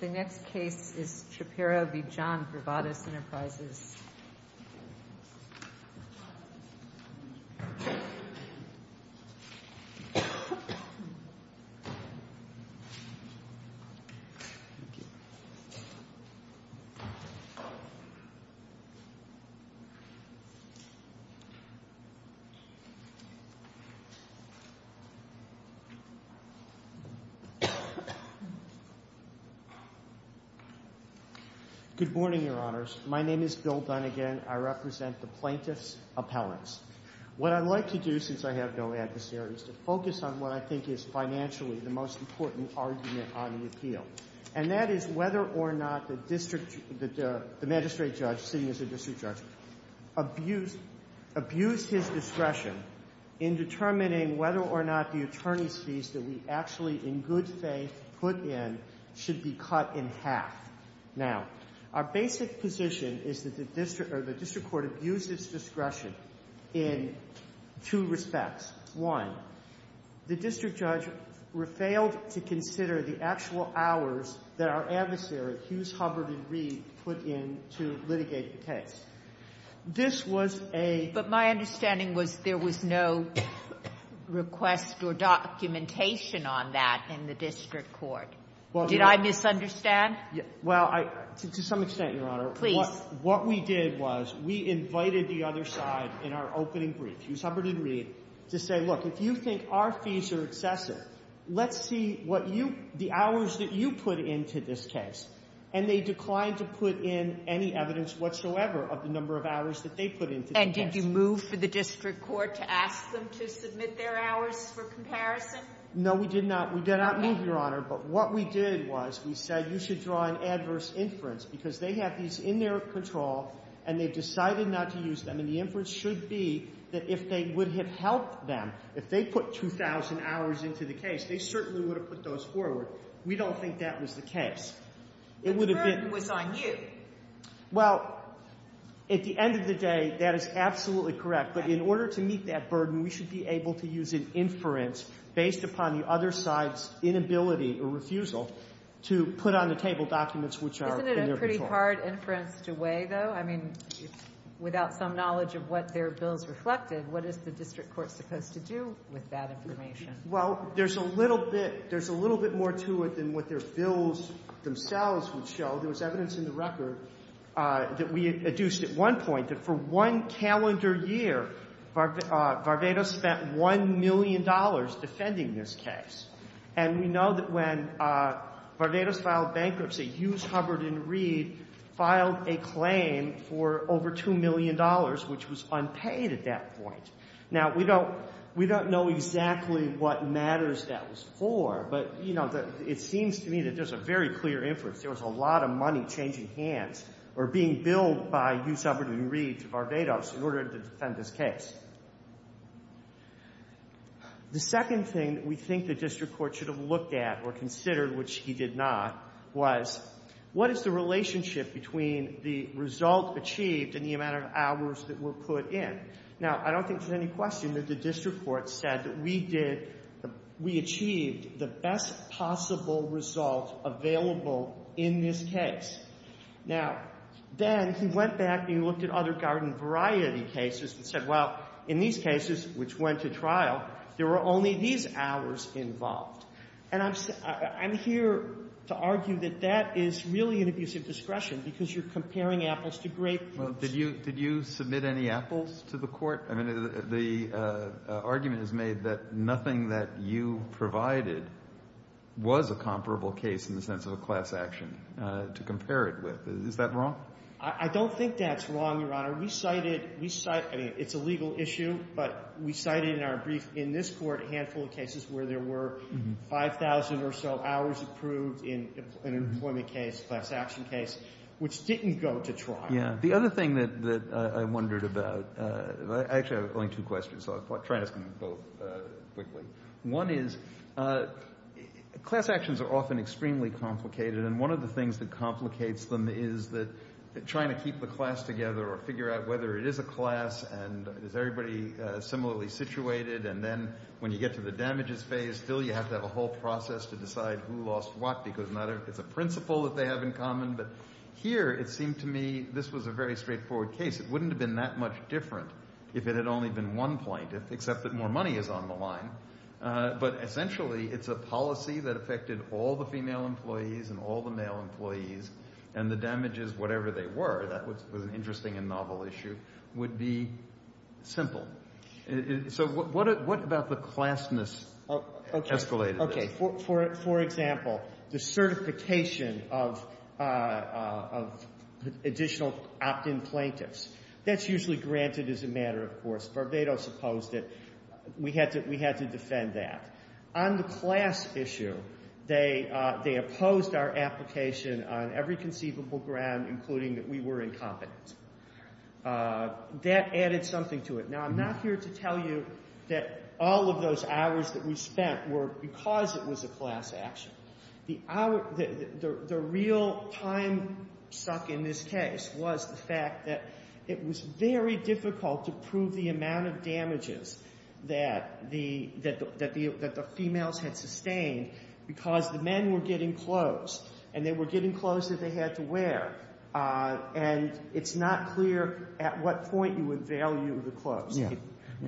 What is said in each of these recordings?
The next case is Shaparro v. John Varvatos Enterprises. Good morning, Your Honors. My name is Bill Dunnegan. I represent the plaintiff's appellants. What I'd like to do, since I have no adversaries, is to focus on what I think is financially the most important argument on the appeal. And that is whether or not the magistrate judge, sitting as a district judge, abused his discretion in determining whether or not the attorney's fees that we actually, in good faith, put in should be cut in half. Now, our basic position is that the district court abused its discretion in two respects. One, the district judge failed to consider the actual hours that our adversary, Hughes, Hubbard, and Reed, put in to litigate the case. This was a — But my understanding was there was no request or documentation on that in the district court. Well, the — Did I misunderstand? Well, I — to some extent, Your Honor. Please. What we did was we invited the other side in our opening brief, Hughes, Hubbard, and Reed, to say, look, if you think our fees are excessive, let's see what you — the hours that you put into this case. And they declined to put in any evidence whatsoever of the number of hours that they put into the case. And did you move for the district court to ask them to submit their hours for comparison? No, we did not. We did not move, Your Honor. But what we did was we said you should draw an adverse inference, because they have these in their control, and they've decided not to use them. And the inference should be that if they would have helped them, if they put 2,000 hours into the case, they certainly would have put those forward. We don't think that was the case. It would have been — But the burden was on you. Well, at the end of the day, that is absolutely correct. But in order to meet that burden, we should be able to use an inference based upon the other side's inability or refusal to put on the table documents which are in their control. Isn't it a pretty hard inference to weigh, though? I mean, without some knowledge of what their bills reflected, what is the district court supposed to do with that information? Well, there's a little bit — there's a little bit more to it than what their bills themselves would show. There was evidence in the record that we adduced at one point that for one calendar year, Varvatos spent $1 million defending this case. And we know that when Varvatos filed bankruptcy, Hughes, Hubbard, and Reed filed a claim for over $2 million, which was unpaid at that point. Now, we don't — we don't know exactly what matters that was for, but, you know, it seems to me that there's a very clear inference. There was a lot of money changing hands or being billed by Hughes, Hubbard, and Reed to Varvatos in order to defend this case. The second thing that we think the district court should have looked at or considered, which he did not, was what is the relationship between the result achieved and the amount of hours that were put in? Now, I don't think there's any question that the district court said that we did — we achieved the best possible result available in this case. Now, then he went back and he looked at other garden variety cases and said, well, in these cases, which went to trial, there were only these hours involved. And I'm — I'm here to argue that that is really an abuse of discretion because you're comparing apples to grapefruits. Well, did you — did you submit any apples to the court? I mean, the argument is made that nothing that you provided was a comparable case in the sense of a class action to compare it with. Is that wrong? I don't think that's wrong, Your Honor. We cited — I mean, it's a legal issue, but we cited in our brief in this court a handful of cases where there were 5,000 or so hours approved in an employment case, class action case, which didn't go to trial. Yeah. The other thing that I wondered about — actually, I have only two questions, so I'll try to ask them both quickly. One is class actions are often extremely complicated, and one of the things that complicates them is that trying to keep the class together or figure out whether it is a class and is everybody similarly situated, and then when you get to the damages phase, still you have to have a whole process to decide who lost what because it's a principle that they have in common. But here it seemed to me this was a very straightforward case. It wouldn't have been that much different if it had only been one plaintiff, except that more money is on the line. But essentially it's a policy that affected all the female employees and all the male employees, and the damages, whatever they were — that was an interesting and novel issue — would be simple. So what about the classness escalated this? For example, the certification of additional opt-in plaintiffs. That's usually granted as a matter of course. Barbados opposed it. We had to defend that. On the class issue, they opposed our application on every conceivable ground, including that we were incompetent. That added something to it. Now, I'm not here to tell you that all of those hours that we spent were because it was a class action. The real time suck in this case was the fact that it was very difficult to prove the amount of damages that the females had sustained because the men were getting clothes, and they were getting clothes that they had to wear, and it's not clear at what point you would value the clothes.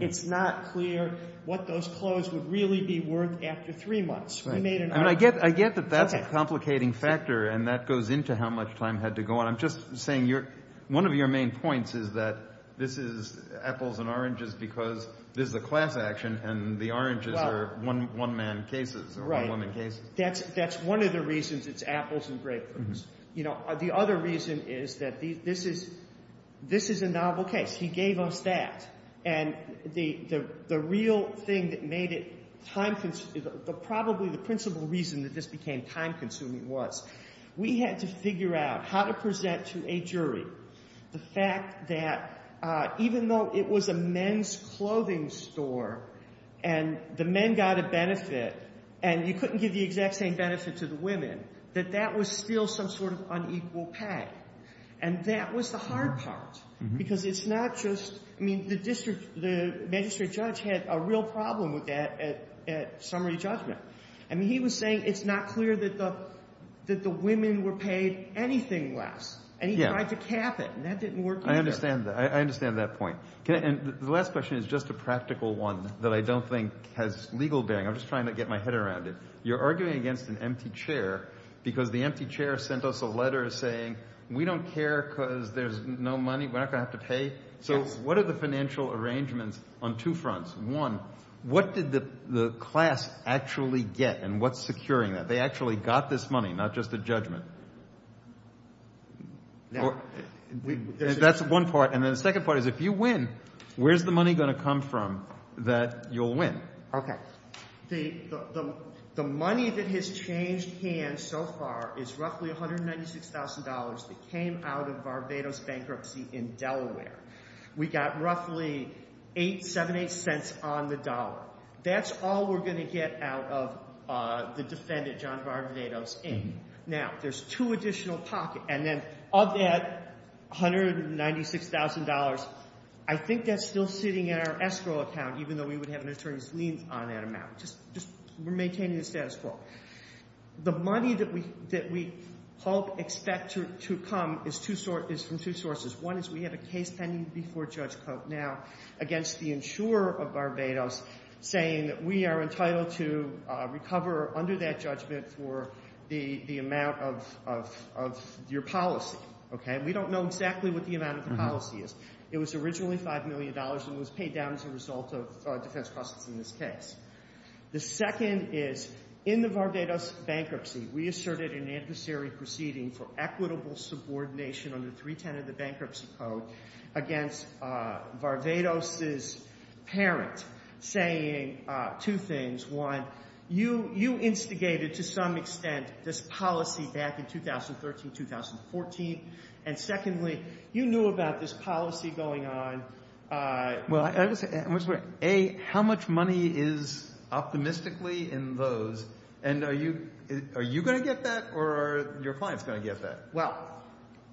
It's not clear what those clothes would really be worth after three months. We made an argument. I get that that's a complicating factor, and that goes into how much time had to go on. I'm just saying one of your main points is that this is apples and oranges because this is a class action, and the oranges are one-man cases or one-woman cases. That's one of the reasons it's apples and grapefruits. The other reason is that this is a novel case. He gave us that, and the real thing that made it time – probably the principal reason that this became time-consuming was we had to figure out how to present to a jury the fact that even though it was a men's clothing store and the men got a benefit and you couldn't give the exact same benefit to the women, that that was still some sort of unequal pay. And that was the hard part because it's not just – I mean the magistrate judge had a real problem with that at summary judgment. I mean he was saying it's not clear that the women were paid anything less. And he tried to cap it, and that didn't work either. I understand that point. And the last question is just a practical one that I don't think has legal bearing. I'm just trying to get my head around it. You're arguing against an empty chair because the empty chair sent us a letter saying we don't care because there's no money. We're not going to have to pay. So what are the financial arrangements on two fronts? One, what did the class actually get and what's securing that? They actually got this money, not just the judgment. That's one part. And then the second part is if you win, where's the money going to come from that you'll win? Okay. The money that has changed hands so far is roughly $196,000 that came out of Barbados bankruptcy in Delaware. We got roughly eight, seven, eight cents on the dollar. That's all we're going to get out of the defendant, John Barbados, in. Now, there's two additional pockets. And then of that $196,000, I think that's still sitting in our escrow account, even though we would have an attorney's lien on that amount. Just we're maintaining the status quo. The money that we hope, expect to come is from two sources. One is we have a case pending before Judge Cote now against the insurer of Barbados saying that we are entitled to recover under that judgment for the amount of your policy. Okay? We don't know exactly what the amount of the policy is. It was originally $5 million and was paid down as a result of defense costs in this case. The second is in the Barbados bankruptcy, we asserted an adversary proceeding for equitable subordination under 310 of the Bankruptcy Code against Barbados' parent saying two things. One, you instigated to some extent this policy back in 2013, 2014. And secondly, you knew about this policy going on. A, how much money is optimistically in those? And are you going to get that or are your clients going to get that? Well,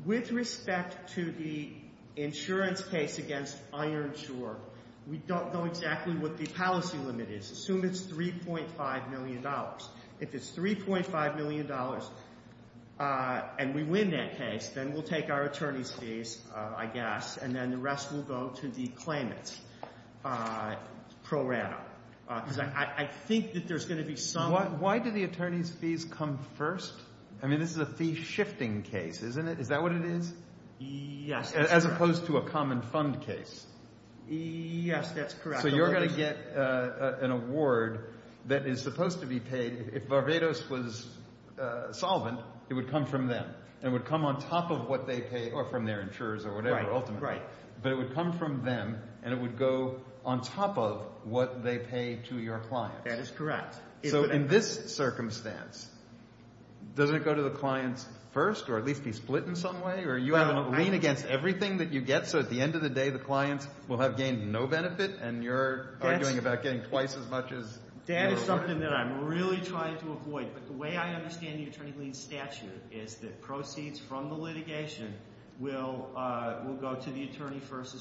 with respect to the insurance case against Ironshore, we don't know exactly what the policy limit is. Assume it's $3.5 million. If it's $3.5 million and we win that case, then we'll take our attorney's fees, I guess, and then the rest will go to the claimants pro rata. Because I think that there's going to be some— Why do the attorney's fees come first? I mean, this is a fee-shifting case, isn't it? Is that what it is? Yes, that's correct. As opposed to a common fund case. Yes, that's correct. So you're going to get an award that is supposed to be paid. If Barbados was solvent, it would come from them. It would come on top of what they pay or from their insurers or whatever ultimately. But it would come from them and it would go on top of what they pay to your clients. That is correct. So in this circumstance, doesn't it go to the clients first or at least be split in some way? So at the end of the day, the clients will have gained no benefit and you're arguing about getting twice as much as— That is something that I'm really trying to avoid. But the way I understand the attorney's statute is that proceeds from the litigation will go to the attorney first.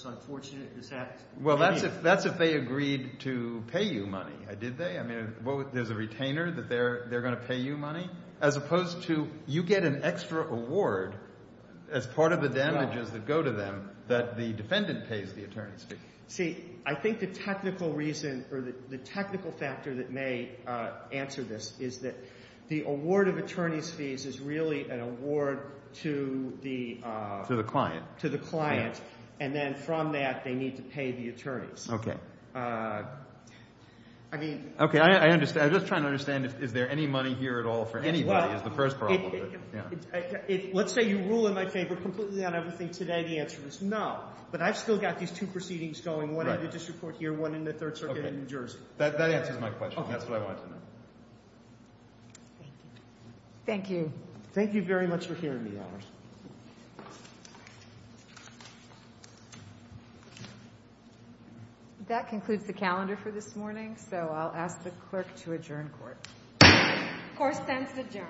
Well, that's if they agreed to pay you money. Did they? I mean, there's a retainer that they're going to pay you money? As opposed to you get an extra award as part of the damages that go to them that the defendant pays the attorney's fee. See, I think the technical reason or the technical factor that may answer this is that the award of attorney's fees is really an award to the— To the client. To the client. And then from that, they need to pay the attorneys. Okay. I mean— Okay, I understand. I'm just trying to understand is there any money here at all for anybody is the first problem. Let's say you rule in my favor completely on everything today. The answer is no. But I've still got these two proceedings going, one in the district court here, one in the Third Circuit in New Jersey. That answers my question. That's what I wanted to know. Thank you. Thank you. Thank you very much for hearing me, Alice. Thank you. That concludes the calendar for this morning, so I'll ask the clerk to adjourn court. Court stands adjourned. Thank you.